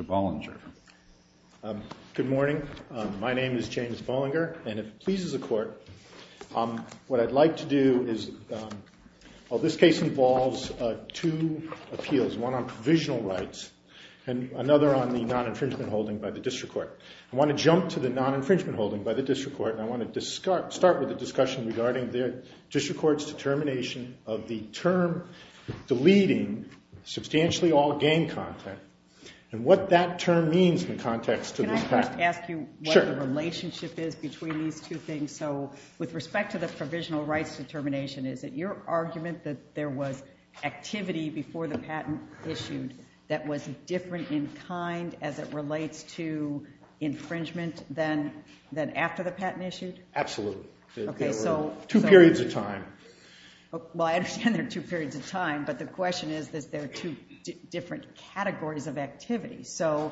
Bollinger. Good morning, my name is James Bollinger and if it pleases the Court, what I'd like to do is, well this case involves two appeals, one on provisional rights and another on the district court. I want to jump to the non-infringement holding by the district court and I want to start with a discussion regarding the district court's determination of the term deleting substantially all gang content and what that term means in context to this patent. Can I first ask you what the relationship is between these two things? So with respect to the provisional rights determination, is it your argument that there was activity before the patent issued that was different in kind as it relates to infringement than after the patent issued? Absolutely. Two periods of time. Well, I understand there are two periods of time, but the question is that there are two different categories of activity. So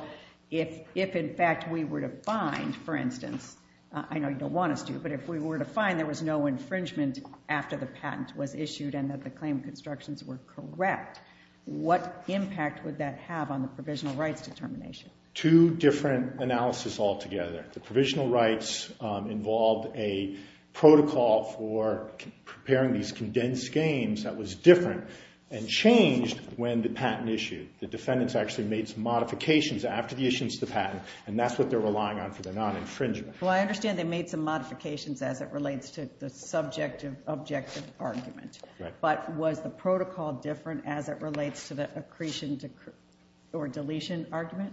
if, in fact, we were to find, for instance, I know you don't want us to, but if we were to find there was no infringement after the patent was issued and that the claim constructions were correct, what impact would that have on the provisional rights determination? Two different analysis altogether. The provisional rights involved a protocol for preparing these condensed games that was different and changed when the patent issued. The defendants actually made some modifications after the issuance of the patent and that's what they're relying on for their non-infringement. Well, I understand they made some modifications as it relates to the subjective objective argument, but was the protocol different as it relates to the accretion or deletion argument?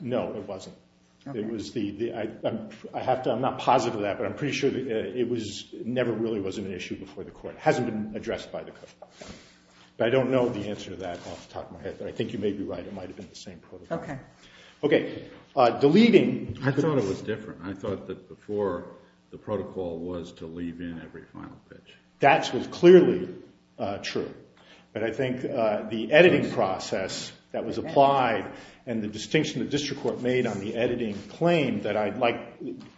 No, it wasn't. I'm not positive of that, but I'm pretty sure it never really was an issue before the court. It hasn't been addressed by the court. But I don't know the answer to that off the top of my head, but I think you may be right. It might have been the same protocol. Okay. Deleting. I thought it was different. I thought that before the protocol was to leave in every final pitch. That was clearly true. But I think the editing process that was applied and the distinction the district court made on the editing claim that I'd like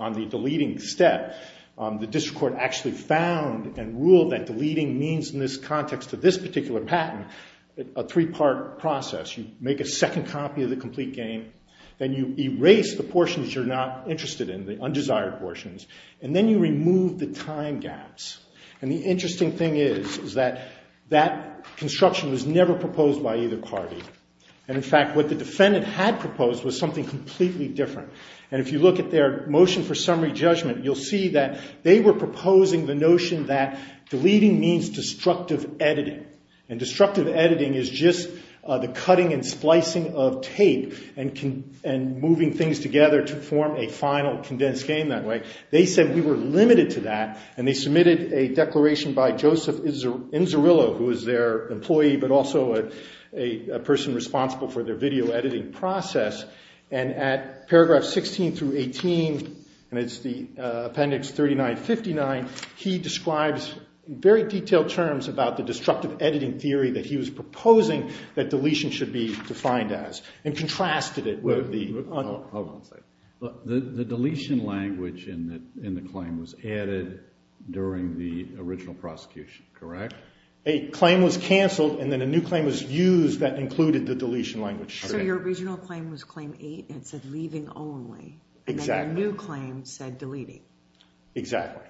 on the deleting step, the district court actually found and ruled that deleting means in this context of this particular patent, a three-part process. You make a second copy of the complete game, then you erase the portions you're not interested in, the undesired portions, and then you remove the time gaps. And the interesting thing is, is that that construction was never proposed by either party. And in fact, what the defendant had proposed was something completely different. And if you look at their motion for summary judgment, you'll see that they were proposing the notion that deleting means destructive editing. And destructive editing is just the cutting and splicing of tape and moving things together to form a final condensed game that way. They said we were limited to that, and they submitted a declaration by Joseph Inzerillo, who was their employee, but also a person responsible for their video editing process. And at paragraph 16 through 18, and it's the appendix 39-59, he describes very detailed terms about the destructive editing theory that he was proposing that deletion should be defined as, and contrasted it with the... Hold on a second. The deletion language in the claim was added during the original prosecution, correct? A claim was canceled, and then a new claim was used that included the deletion language. So your original claim was claim eight, and it said leaving only. Exactly. And then a new claim said deleting. Exactly.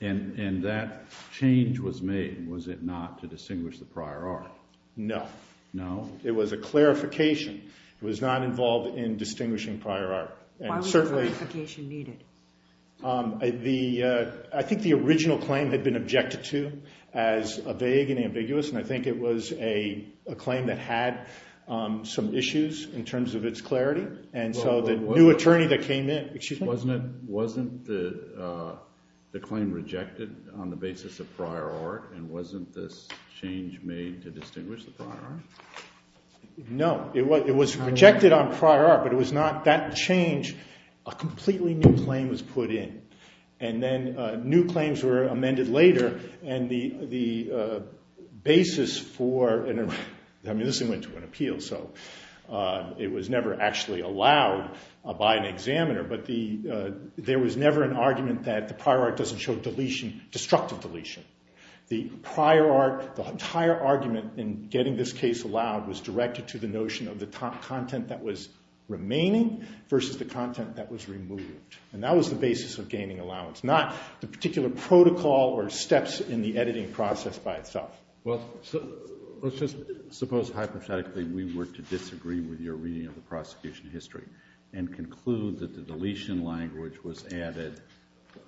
And that change was made, was it not, to distinguish the prior art? No. No? It was a clarification. It was not involved in distinguishing prior art. Why was the clarification needed? I think the original claim had been objected to as vague and ambiguous, and I think it was a claim that had some issues in terms of its clarity. And so the new attorney that came in... Excuse me? Wasn't the claim rejected on the basis of prior art, and wasn't this change made to distinguish the prior art? No. It was rejected on prior art, but it was not that change. A completely new claim was I mean, this thing went to an appeal, so it was never actually allowed by an examiner. But there was never an argument that the prior art doesn't show destructive deletion. The prior art, the entire argument in getting this case allowed was directed to the notion of the content that was remaining versus the content that was removed. And that was the basis of gaining allowance, not the particular protocol or steps in the editing process by itself. Well, let's just suppose hypothetically we were to disagree with your reading of the prosecution history and conclude that the deletion language was added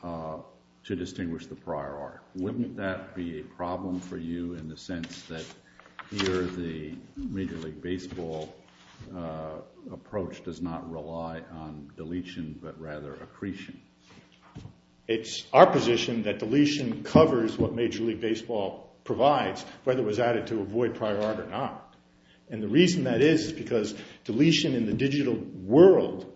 to distinguish the prior art. Wouldn't that be a problem for you in the sense that here the Major League Baseball approach does not rely on deletion, but rather accretion? It's our position that deletion covers what Major League Baseball provides, whether it was added to avoid prior art or not. And the reason that is is because deletion in the digital world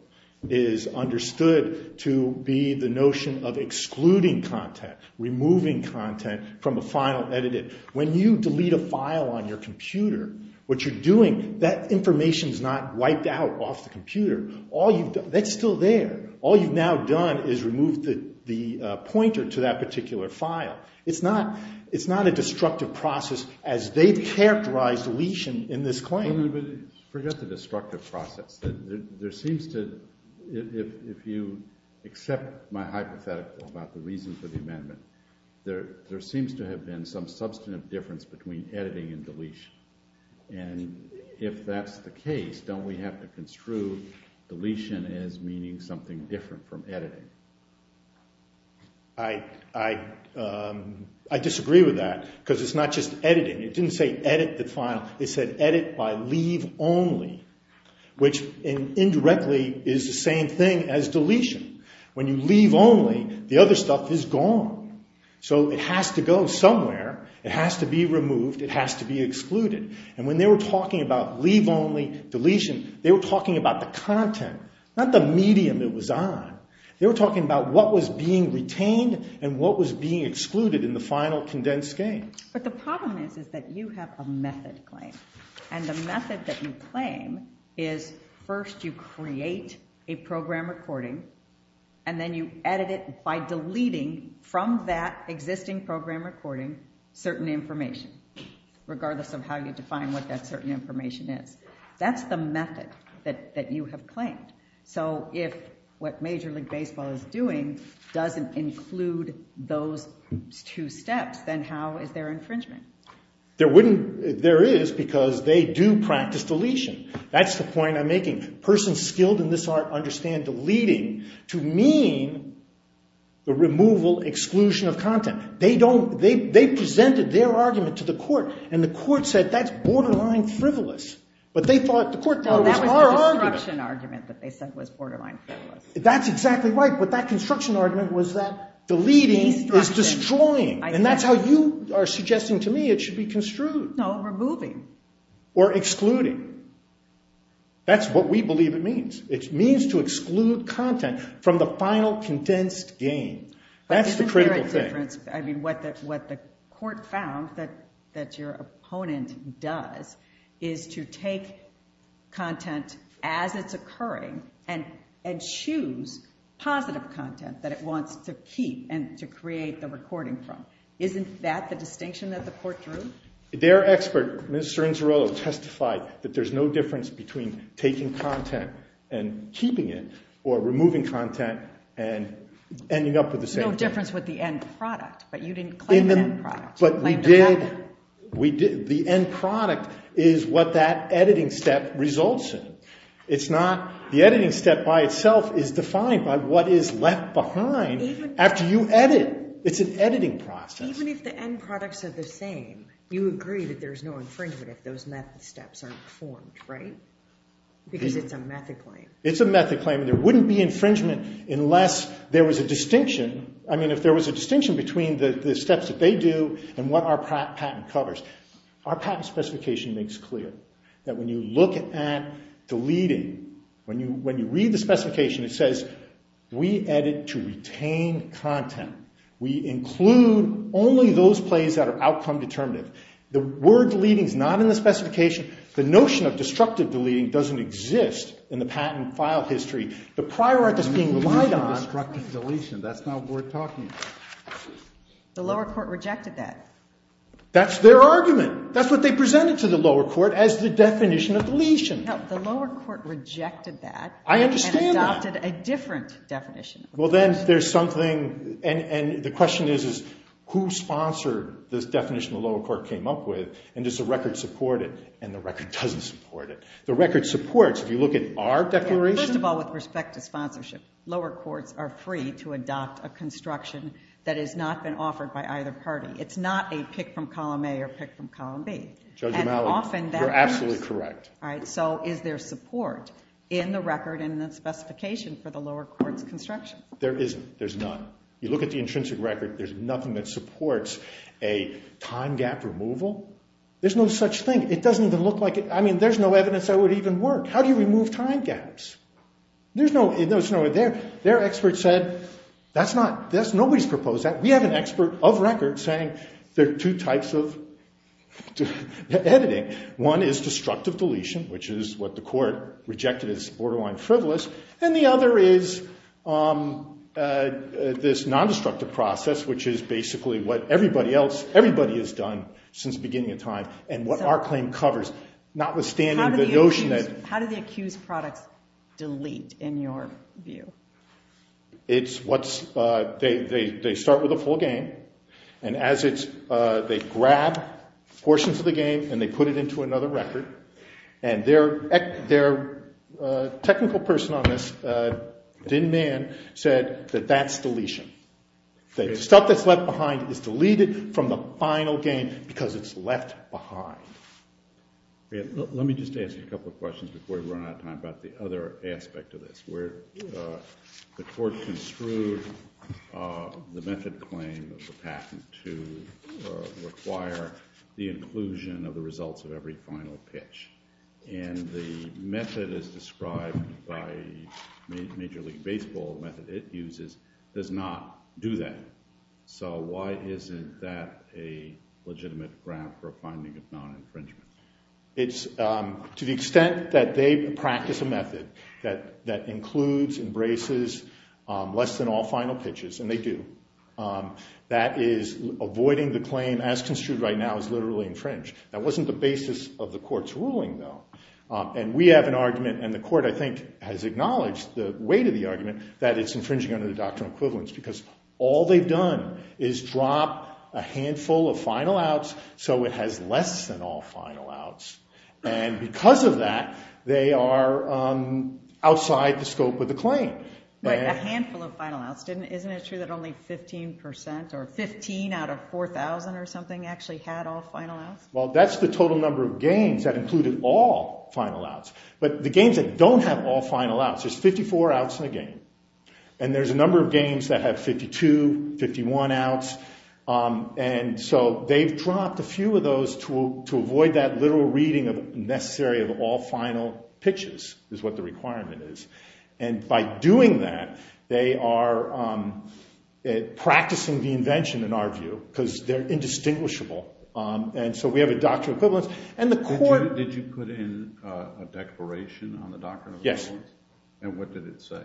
is understood to be the notion of excluding content, removing content from a final edited. When you delete a file on your computer, what you're doing, that information is not wiped out off the computer. That's still there. All you've now done is remove the pointer to that particular file. It's not a destructive process as they've characterized deletion in this claim. But forget the destructive process. There seems to, if you accept my hypothetical about the reason for the amendment, there seems to have been some substantive difference between Don't we have to construe deletion as meaning something different from editing? I disagree with that because it's not just editing. It didn't say edit the file. It said edit by leave only, which indirectly is the same thing as deletion. When you leave only, the other stuff is gone. So it has to go somewhere. It has to be removed. It has to be excluded. And when they were talking about leave only, deletion, they were talking about the content, not the medium it was on. They were talking about what was being retained and what was being excluded in the final condensed game. But the problem is that you have a method claim. And the method that you claim is first you create a program recording and then you edit it by deleting from that existing program recording certain information, regardless of how you define what that certain information is. That's the method that you have claimed. So if what Major League Baseball is doing doesn't include those two steps, then how is there infringement? There is, because they do practice deletion. That's the point I'm making. Persons skilled in this art understand deleting to mean the removal, exclusion of content. They presented their argument to the court, and the court said that's borderline frivolous. But they thought the court thought it was our argument. No, that was the construction argument that they said was borderline frivolous. That's exactly right. But that construction argument was that deleting is destroying. And that's how you are suggesting to me it should be construed. No, removing. Or excluding. That's what we believe it means. It means to exclude content from the final condensed game. That's the critical thing. But isn't there a difference? I mean, what the court found that your opponent does is to take content as it's occurring and choose positive content that it wants to keep and to create the recording from. Isn't that the distinction that the court drew? Their expert, Ms. Cirincerello, testified that there's no difference between taking content and keeping it or removing content and ending up with the same thing. No difference with the end product, but you didn't claim the end product. But we did. The end product is what that editing step results in. The editing step by itself is defined by what is left behind after you edit. It's an editing process. Even if the end products are the same, you agree that there's no infringement if those method steps aren't formed, right? Because it's a method claim. It's a method claim. There wouldn't be infringement unless there was a distinction. I mean, if there was a distinction between the steps that they do and what our patent covers. Our patent specification makes clear that when you look at deleting, when you read the specification, it says we edit to retain content. We include only those plays that are outcome determinative. The word deleting is not in the specification. The notion of destructive deleting doesn't exist in the patent file history. The prior art that's being relied on. Destructive deletion, that's not what we're talking about. The lower court rejected that. That's their argument. That's what they presented to the lower court as the definition of deletion. No, the lower court rejected that. I understand that. And adopted a different definition. Well, then there's something, and the question is, who sponsored this definition the lower court came up with? And does the record support it? And the record doesn't support it. The record supports, if you look at our declaration. First of all, with respect to sponsorship, lower courts are free to adopt a construction that has not been offered by either party. It's not a pick from column A or pick from column B. Judge O'Malley, you're absolutely correct. All right, so is there support in the record and the specification for the lower court's construction? There isn't. There's none. You look at the intrinsic record, there's nothing that supports a time gap removal. There's no such thing. It doesn't even look like it. I mean, there's no evidence that it would even work. How do you remove time gaps? There's no way. Their expert said, that's not, nobody's proposed that. We have an expert of record saying there are two types of editing. One is destructive deletion, which is what the court rejected as borderline frivolous. And the other is this nondestructive process, which is basically what everybody else, everybody has done since the beginning of time, and what our claim covers, notwithstanding the notion that- How do the accused products delete, in your view? It's what's, they start with a full game. And as it's, they grab portions of the game and they put it into another record. And their technical person on this, Din Mann, said that that's deletion. The stuff that's left behind is deleted from the final game because it's left behind. Let me just ask you a couple of questions before we run out of time about the other aspect of this, where the court construed the method claim of the patent to require the inclusion of the results of every final pitch. And the method as described by Major League Baseball, the method it uses, does not do that. So why isn't that a legitimate ground for a finding of non-infringement? It's to the extent that they practice a method that includes, embraces less than all final pitches, and they do, that is avoiding the claim as construed right now as literally infringe. That wasn't the basis of the court's ruling, though. And we have an argument, and the court, I think, has acknowledged the weight of the argument, that it's infringing under the doctrinal equivalence because all they've done is drop a handful of final outs so it has less than all final outs. And because of that, they are outside the scope of the claim. But a handful of final outs, isn't it true that only 15% or 15 out of 4,000 or something actually had all final outs? Well, that's the total number of games that included all final outs. But the games that don't have all final outs, there's 54 outs in a game. And there's a number of games that have 52, 51 outs. And so they've dropped a few of those to avoid that literal reading of necessary of all final pitches is what the requirement is. And by doing that, they are practicing the invention, in our view, because they're indistinguishable. And so we have a doctrinal equivalence, and the court- Did you put in a declaration on the doctrinal equivalence? Yes. And what did it say?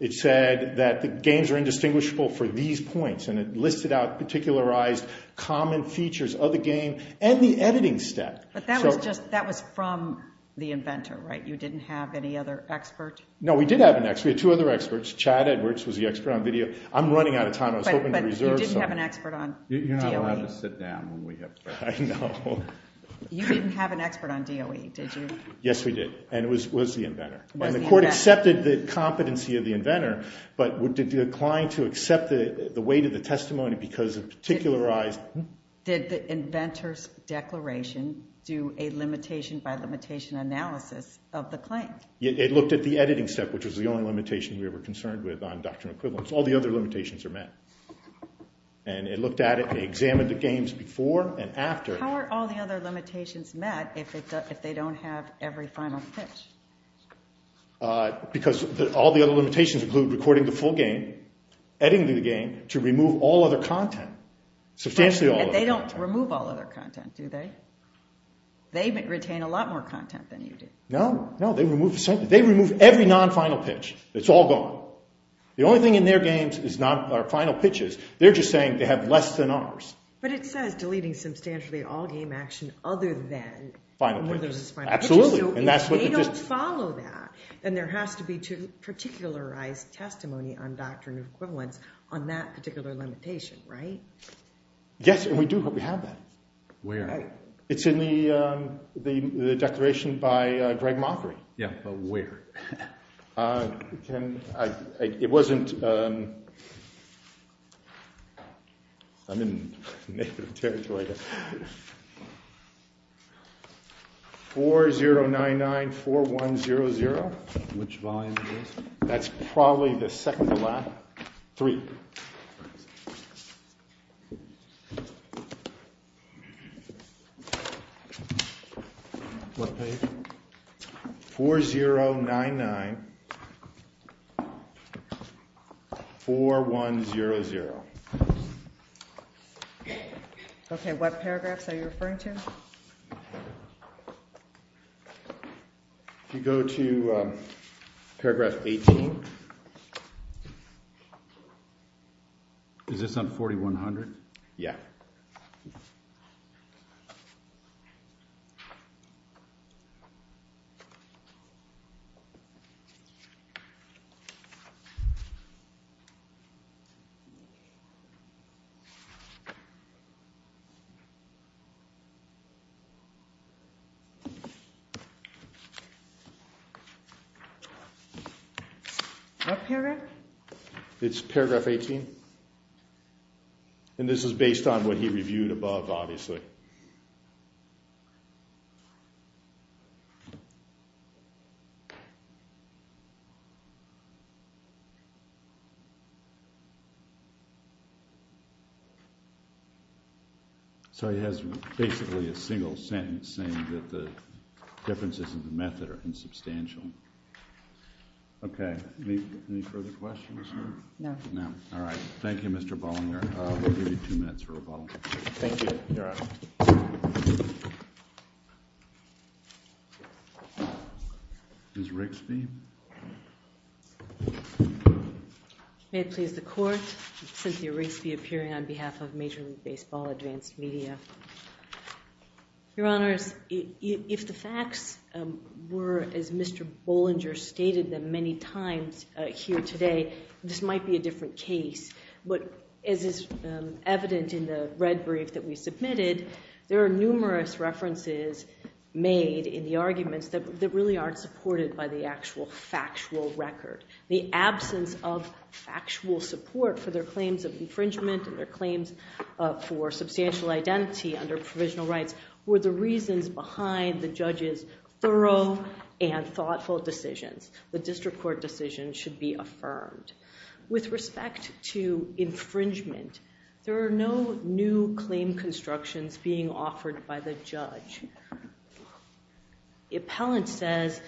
It said that the games are indistinguishable for these points, and it listed out particularized common features of the game and the editing step. But that was from the inventor, right? You didn't have any other expert? No, we did have an expert. We had two other experts. Chad Edwards was the expert on video. I'm running out of time. I was hoping to reserve some. But you didn't have an expert on DOE. You're not allowed to sit down when we have questions. I know. You didn't have an expert on DOE, did you? Yes, we did. And it was the inventor. And the court accepted the competency of the inventor, but declined to accept the weight of the testimony because of particularized- Did the inventor's declaration do a limitation-by-limitation analysis of the claim? It looked at the editing step, which was the only limitation we were concerned with on doctrinal equivalence. All the other limitations are met. And it looked at it. It examined the games before and after. How are all the other limitations met if they don't have every final pitch? Because all the other limitations include recording the full game, editing the game to remove all other content. Substantially all other content. They don't remove all other content, do they? They retain a lot more content than you do. No, they remove every non-final pitch. It's all gone. The only thing in their games are final pitches. They're just saying they have less than ours. But it says deleting substantially all game action other than when there's a final pitch. Absolutely. So if they don't follow that, then there has to be particularized testimony on doctrinal equivalence on that particular limitation, right? Yes, and we do. We have that. Where? It's in the declaration by Greg Mockery. Yeah, but where? It wasn't—I'm in negative territory here. 40994100. Which volume is this? That's probably the second to last. Three. What page? 40994100. Okay, what paragraphs are you referring to? If you go to paragraph 18. Is this on 4100? Yeah. Okay. What paragraph? It's paragraph 18. And this is based on what he reviewed above, obviously. Okay. So he has basically a single sentence saying that the differences in the method are insubstantial. Okay. Any further questions? No. No. All right. Thank you, Mr. Bollinger. We'll give you two minutes for rebuttal. Thank you, Your Honor. Ms. Rigsby? May it please the Court, Cynthia Rigsby appearing on behalf of Major League Baseball Advanced Media. Your Honors, if the facts were as Mr. Bollinger stated them many times here today, this might be a different case. But as is evident in the red brief that we submitted, there are numerous references made in the arguments that really aren't supported by the actual factual record. The absence of factual support for their claims of infringement and their claims for substantial identity under provisional rights were the reasons behind the judges' thorough and thoughtful decisions. The district court decision should be affirmed. With respect to infringement, there are no new claim constructions being offered by the judge. The appellant says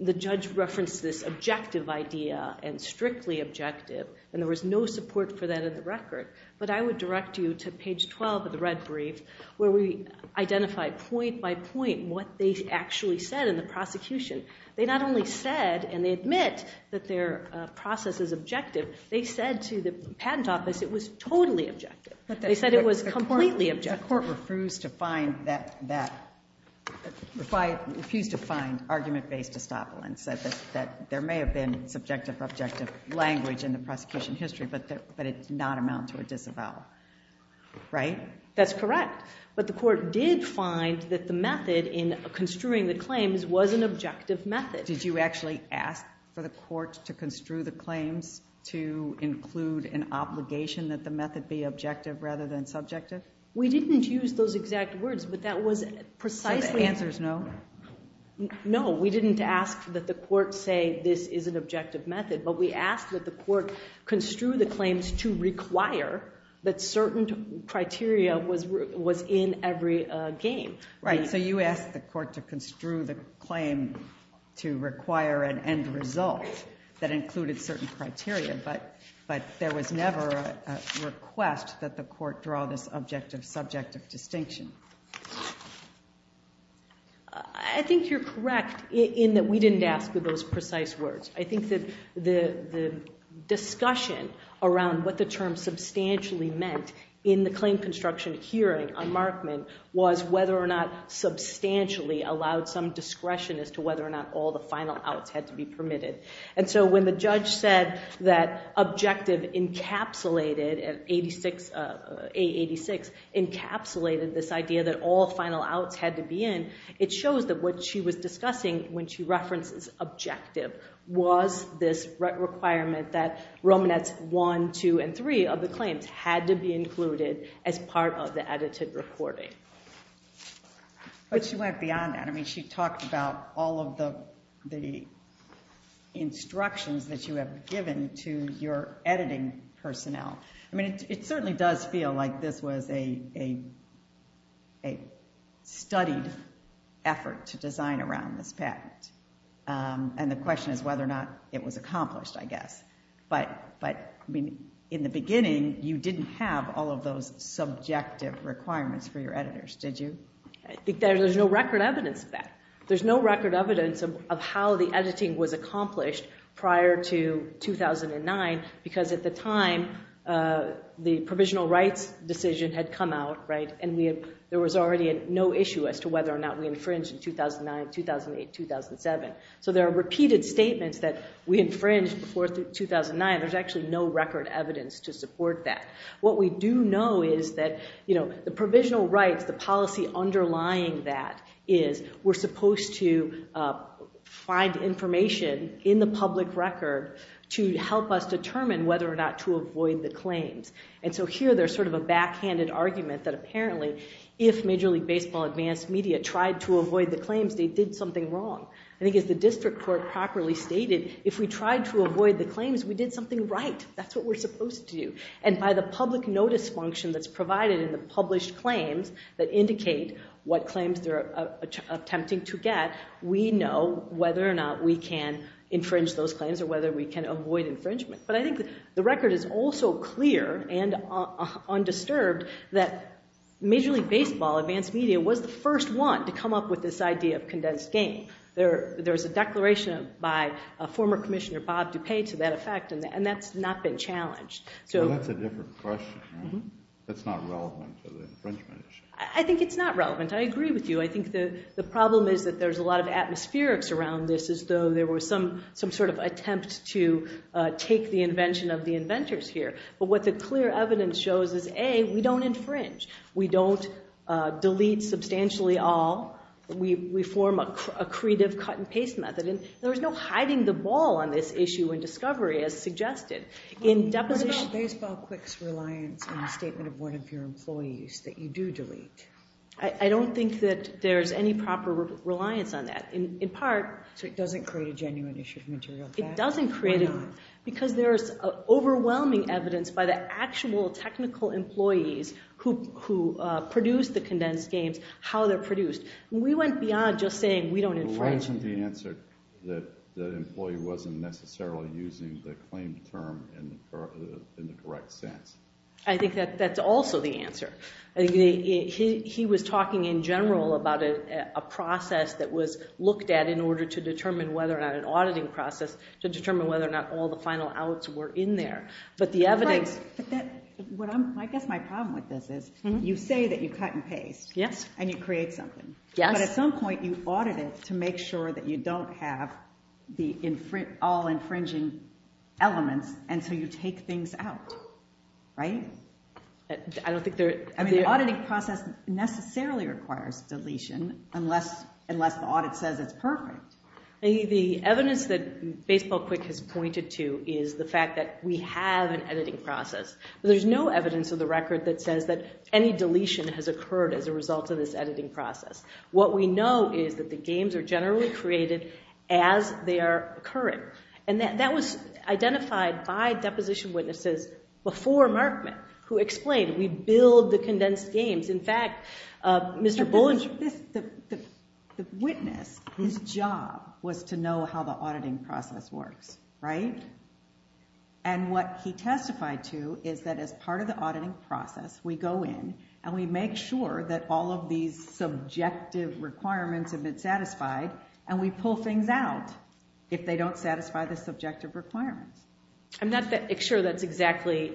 the judge referenced this objective idea and strictly objective, and there was no support for that in the record. But I would direct you to page 12 of the red brief where we identify point by point what they actually said in the prosecution. They not only said and they admit that their process is objective, they said to the patent office it was totally objective. They said it was completely objective. The court refused to find argument-based estoppelance, that there may have been subjective or objective language in the prosecution history, but it did not amount to a disavowal. Right? That's correct. But the court did find that the method in construing the claims was an objective method. Did you actually ask for the court to construe the claims to include an obligation that the method be objective rather than subjective? We didn't use those exact words, but that was precisely... So the answer is no? No, we didn't ask that the court say this is an objective method, but we asked that the court construe the claims to require that certain criteria was in every game. Right, so you asked the court to construe the claim to require an end result that included certain criteria, but there was never a request that the court draw this objective-subjective distinction. I think you're correct in that we didn't ask for those precise words. I think that the discussion around what the term substantially meant in the claim construction hearing on Markman was whether or not substantially allowed some discretion as to whether or not all the final outs had to be permitted. And so when the judge said that objective encapsulated, A86, encapsulated this idea that all final outs had to be in, it shows that what she was discussing when she references objective was this requirement that Romanets 1, 2, and 3 of the claims had to be included as part of the edited reporting. But she went beyond that. I mean, she talked about all of the instructions that you have given to your editing personnel. I mean, it certainly does feel like this was a studied effort to design around this patent. And the question is whether or not it was accomplished, I guess. But in the beginning, you didn't have all of those subjective requirements for your editors, did you? There's no record evidence of that. There's no record evidence of how the editing was accomplished prior to 2009 because at the time, the provisional rights decision had come out, right, and there was already no issue as to whether or not we infringed in 2009, 2008, 2007. So there are repeated statements that we infringed before 2009. There's actually no record evidence to support that. What we do know is that the provisional rights, the policy underlying that, is we're supposed to find information in the public record to help us determine whether or not to avoid the claims. And so here there's sort of a backhanded argument that apparently if Major League Baseball Advanced Media tried to avoid the claims, they did something wrong. I think as the district court properly stated, if we tried to avoid the claims, we did something right. That's what we're supposed to do. And by the public notice function that's provided in the published claims that indicate what claims they're attempting to get, we know whether or not we can infringe those claims or whether we can avoid infringement. But I think the record is also clear and undisturbed that Major League Baseball Advanced Media was the first one to come up with this idea of condensed game. There's a declaration by former Commissioner Bob DuPay to that effect, and that's not been challenged. That's a different question. That's not relevant to the infringement issue. I think it's not relevant. I agree with you. I think the problem is that there's a lot of atmospherics around this as though there was some sort of attempt to take the invention of the inventors here. But what the clear evidence shows is, A, we don't infringe. We don't delete substantially all. We form a creative cut-and-paste method. And there's no hiding the ball on this issue in discovery as suggested. What about BaseballQuick's reliance on the statement of one of your employees that you do delete? I don't think that there's any proper reliance on that. So it doesn't create a genuine issue of material theft? It doesn't create it because there's overwhelming evidence by the actual technical employees who produce the condensed games, how they're produced. We went beyond just saying we don't infringe. You mentioned the answer that the employee wasn't necessarily using the claimed term in the correct sense. I think that's also the answer. He was talking in general about a process that was looked at in order to determine whether or not an auditing process, to determine whether or not all the final outs were in there. But the evidence— I guess my problem with this is you say that you cut-and-paste, and you create something. But at some point, you audit it to make sure that you don't have all infringing elements, and so you take things out, right? I don't think there— I mean, the auditing process necessarily requires deletion unless the audit says it's perfect. The evidence that BaseballQuick has pointed to is the fact that we have an editing process. There's no evidence of the record that says that any deletion has occurred as a result of this editing process. What we know is that the games are generally created as they are occurring. And that was identified by deposition witnesses before Markman, who explained we build the condensed games. In fact, Mr. Bullish— The witness, his job was to know how the auditing process works, right? And what he testified to is that as part of the auditing process, we go in, and we make sure that all of these subjective requirements have been satisfied, and we pull things out if they don't satisfy the subjective requirements. I'm not sure that's exactly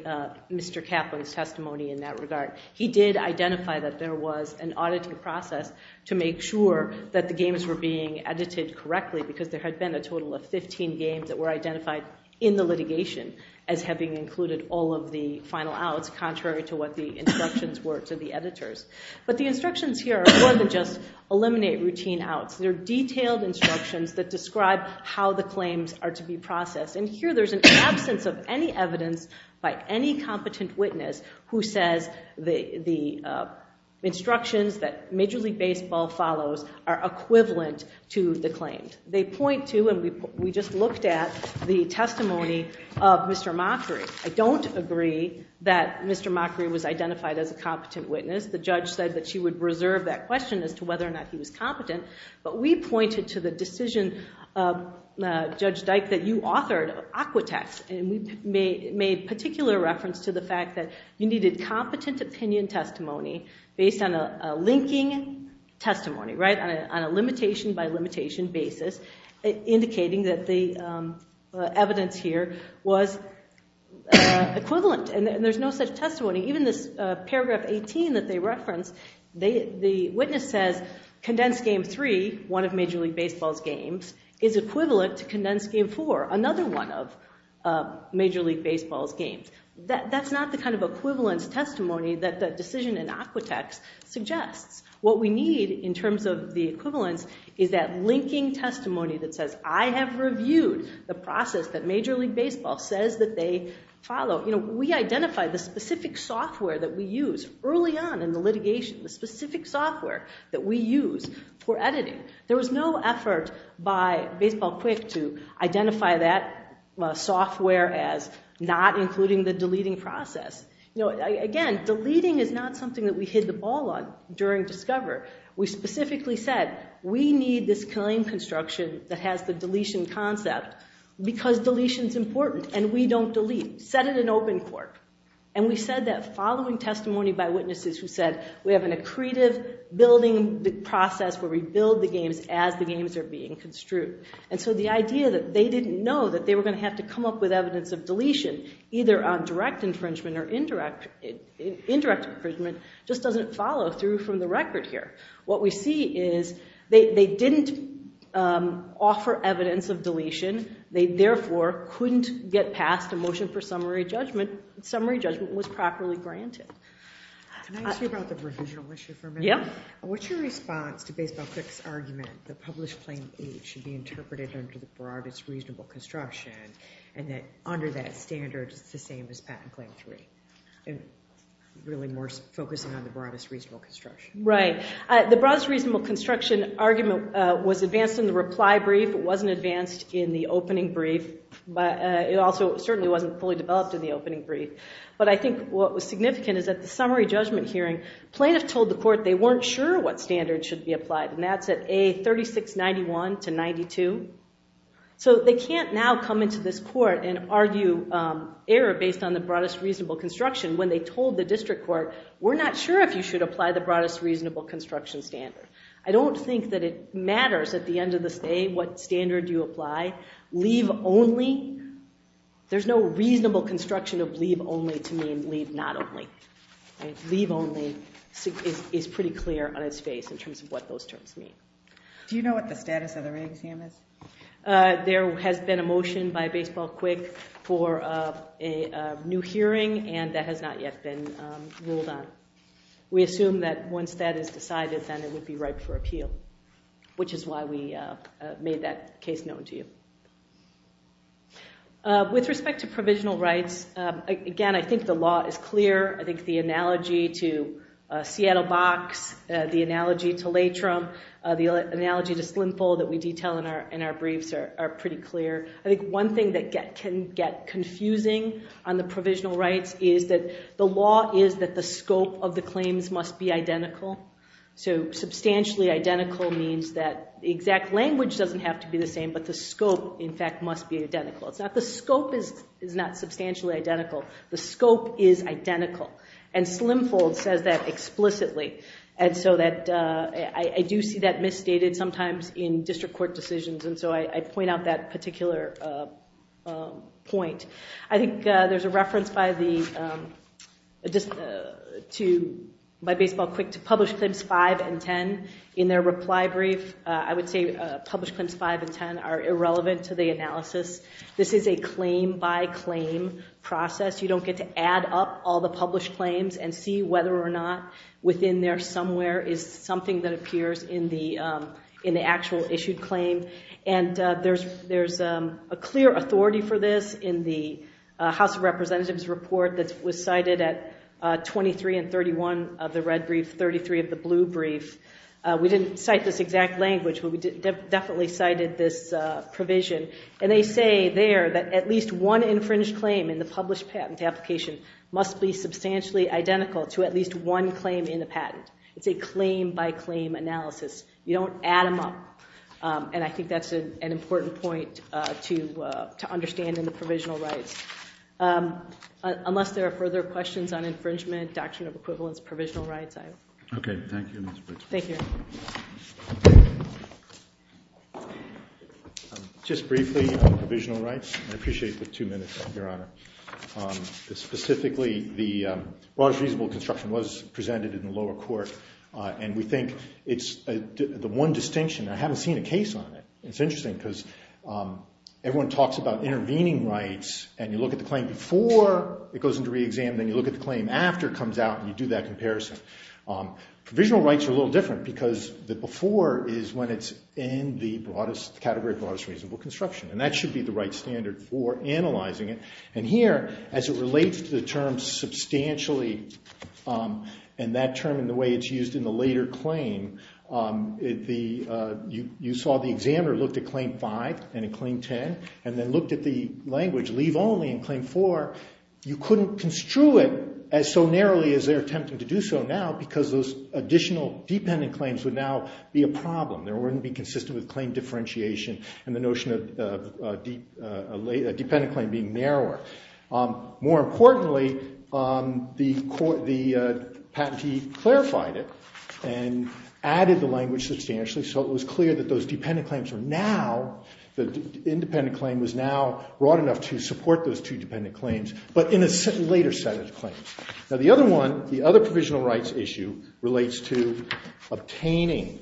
Mr. Kaplan's testimony in that regard. He did identify that there was an auditing process to make sure that the games were being edited correctly because there had been a total of 15 games that were identified in the litigation as having included all of the final outs, contrary to what the instructions were to the editors. But the instructions here are more than just eliminate routine outs. They're detailed instructions that describe how the claims are to be processed. And here there's an absence of any evidence by any competent witness who says the instructions that Major League Baseball follows are equivalent to the claims. They point to, and we just looked at, the testimony of Mr. Mockery. I don't agree that Mr. Mockery was identified as a competent witness. The judge said that she would reserve that question as to whether or not he was competent. But we pointed to the decision, Judge Dyke, that you authored, Aquatex, and we made particular reference to the fact that you needed competent opinion testimony based on a linking testimony, right, on a limitation-by-limitation basis, indicating that the evidence here was equivalent. And there's no such testimony. Even this paragraph 18 that they referenced, the witness says, Condensed Game 3, one of Major League Baseball's games, is equivalent to Condensed Game 4, another one of Major League Baseball's games. That's not the kind of equivalence testimony that the decision in Aquatex suggests. What we need in terms of the equivalence is that linking testimony that says, I have reviewed the process that Major League Baseball says that they follow. We identified the specific software that we use early on in the litigation, the specific software that we use for editing. There was no effort by Baseball Quick to identify that software as not including the deleting process. Again, deleting is not something that we hit the ball on during Discover. We specifically said, we need this claim construction that has the deletion concept because deletion's important and we don't delete. Set it in open court. And we said that following testimony by witnesses who said, we have an accretive building process where we build the games as the games are being construed. And so the idea that they didn't know that they were going to have to come up with evidence of deletion, either on direct infringement or indirect infringement, just doesn't follow through from the record here. What we see is they didn't offer evidence of deletion. They, therefore, couldn't get past a motion for summary judgment. Summary judgment was properly granted. Can I ask you about the provisional issue for a minute? Yeah. What's your response to Baseball Quick's argument that Published Claim 8 should be interpreted under the broadest reasonable construction and that under that standard it's the same as Patent Claim 3, and really more focusing on the broadest reasonable construction? Right. The broadest reasonable construction argument was advanced in the reply brief. It wasn't advanced in the opening brief. It also certainly wasn't fully developed in the opening brief. But I think what was significant is at the summary judgment hearing, plaintiffs told the court they weren't sure what standard should be applied, and that's at A3691 to 92. So they can't now come into this court and argue error based on the broadest reasonable construction when they told the district court, we're not sure if you should apply the broadest reasonable construction standard. I don't think that it matters at the end of the day what standard you apply. Leave only, there's no reasonable construction of leave only to mean leave not only. Leave only is pretty clear on its face in terms of what those terms mean. Do you know what the status of the re-exam is? There has been a motion by Baseball Quick for a new hearing, and that has not yet been ruled on. We assume that once that is decided, then it would be ripe for appeal, which is why we made that case known to you. With respect to provisional rights, again, I think the law is clear. I think the analogy to Seattle Box, the analogy to Latrim, the analogy to Slimful that we detail in our briefs are pretty clear. I think one thing that can get confusing on the provisional rights is that the law is that the scope of the claims must be identical, so substantially identical means that the exact language doesn't have to be the same, but the scope, in fact, must be identical. It's not the scope is not substantially identical. The scope is identical, and Slimful says that explicitly. I do see that misstated sometimes in district court decisions, and so I point out that particular point. I think there's a reference by Baseball Quick to Published Claims 5 and 10 in their reply brief. I would say Published Claims 5 and 10 are irrelevant to the analysis. This is a claim-by-claim process. You don't get to add up all the published claims and see whether or not within there somewhere is something that appears in the actual issued claim, and there's a clear authority for this in the House of Representatives report that was cited at 23 and 31 of the red brief, 33 of the blue brief. We didn't cite this exact language, but we definitely cited this provision, and they say there that at least one infringed claim in the published patent application must be substantially identical to at least one claim in the patent. It's a claim-by-claim analysis. You don't add them up, and I think that's an important point to understand in the provisional rights. Unless there are further questions on infringement, Doctrine of Equivalence, provisional rights. Okay. Thank you, Ms. Briggs. Thank you. Just briefly on provisional rights. I appreciate the two minutes, Your Honor. Specifically, the broadest reasonable construction was presented in the lower court, and we think it's the one distinction. I haven't seen a case on it. It's interesting because everyone talks about intervening rights, and you look at the claim before it goes into re-exam, then you look at the claim after it comes out, and you do that comparison. Provisional rights are a little different because the before is when it's in the broadest category, broadest reasonable construction, and that should be the right standard for analyzing it. And here, as it relates to the term substantially, and that term and the way it's used in the later claim, you saw the examiner looked at Claim 5 and in Claim 10, and then looked at the language leave only in Claim 4. You couldn't construe it as so narrowly as they're attempting to do so now because those additional dependent claims would now be a problem. They wouldn't be consistent with claim differentiation and the notion of a dependent claim being narrower. More importantly, the patentee clarified it and added the language substantially, so it was clear that those dependent claims were now—the independent claim was now broad enough to support those two dependent claims, Now, the other one, the other provisional rights issue, relates to obtaining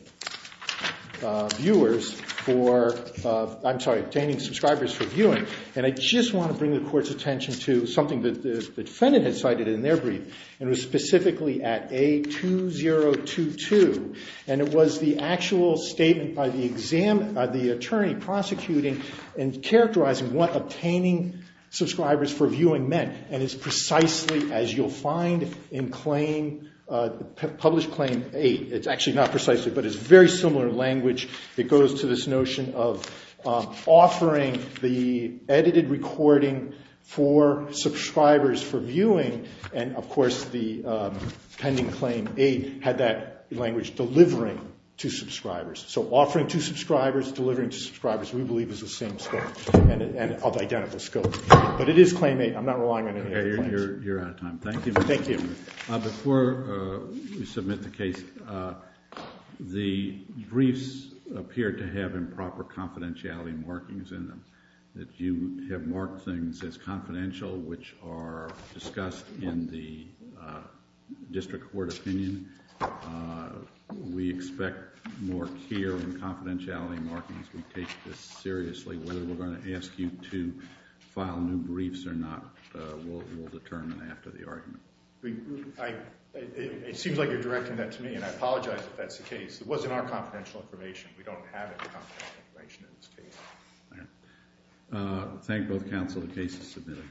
subscribers for viewing. And I just want to bring the Court's attention to something that the defendant had cited in their brief, and it was specifically at A2022, and it was the actual statement by the attorney prosecuting and characterizing what obtaining subscribers for viewing meant. And it's precisely as you'll find in Published Claim 8. It's actually not precisely, but it's very similar language. It goes to this notion of offering the edited recording for subscribers for viewing, and, of course, the pending Claim 8 had that language delivering to subscribers. So offering to subscribers, delivering to subscribers, we believe is the same scope and of identical scope. But it is Claim 8. I'm not relying on any other claims. You're out of time. Thank you. Thank you. Before we submit the case, the briefs appear to have improper confidentiality markings in them, that you have marked things as confidential, which are discussed in the district court opinion. We expect more care in confidentiality markings. We take this seriously. Whether we're going to ask you to file new briefs or not, we'll determine after the argument. It seems like you're directing that to me, and I apologize if that's the case. It wasn't our confidential information. We don't have any confidential information in this case. All right. Thank both counsel. The case is submitted. Thank you.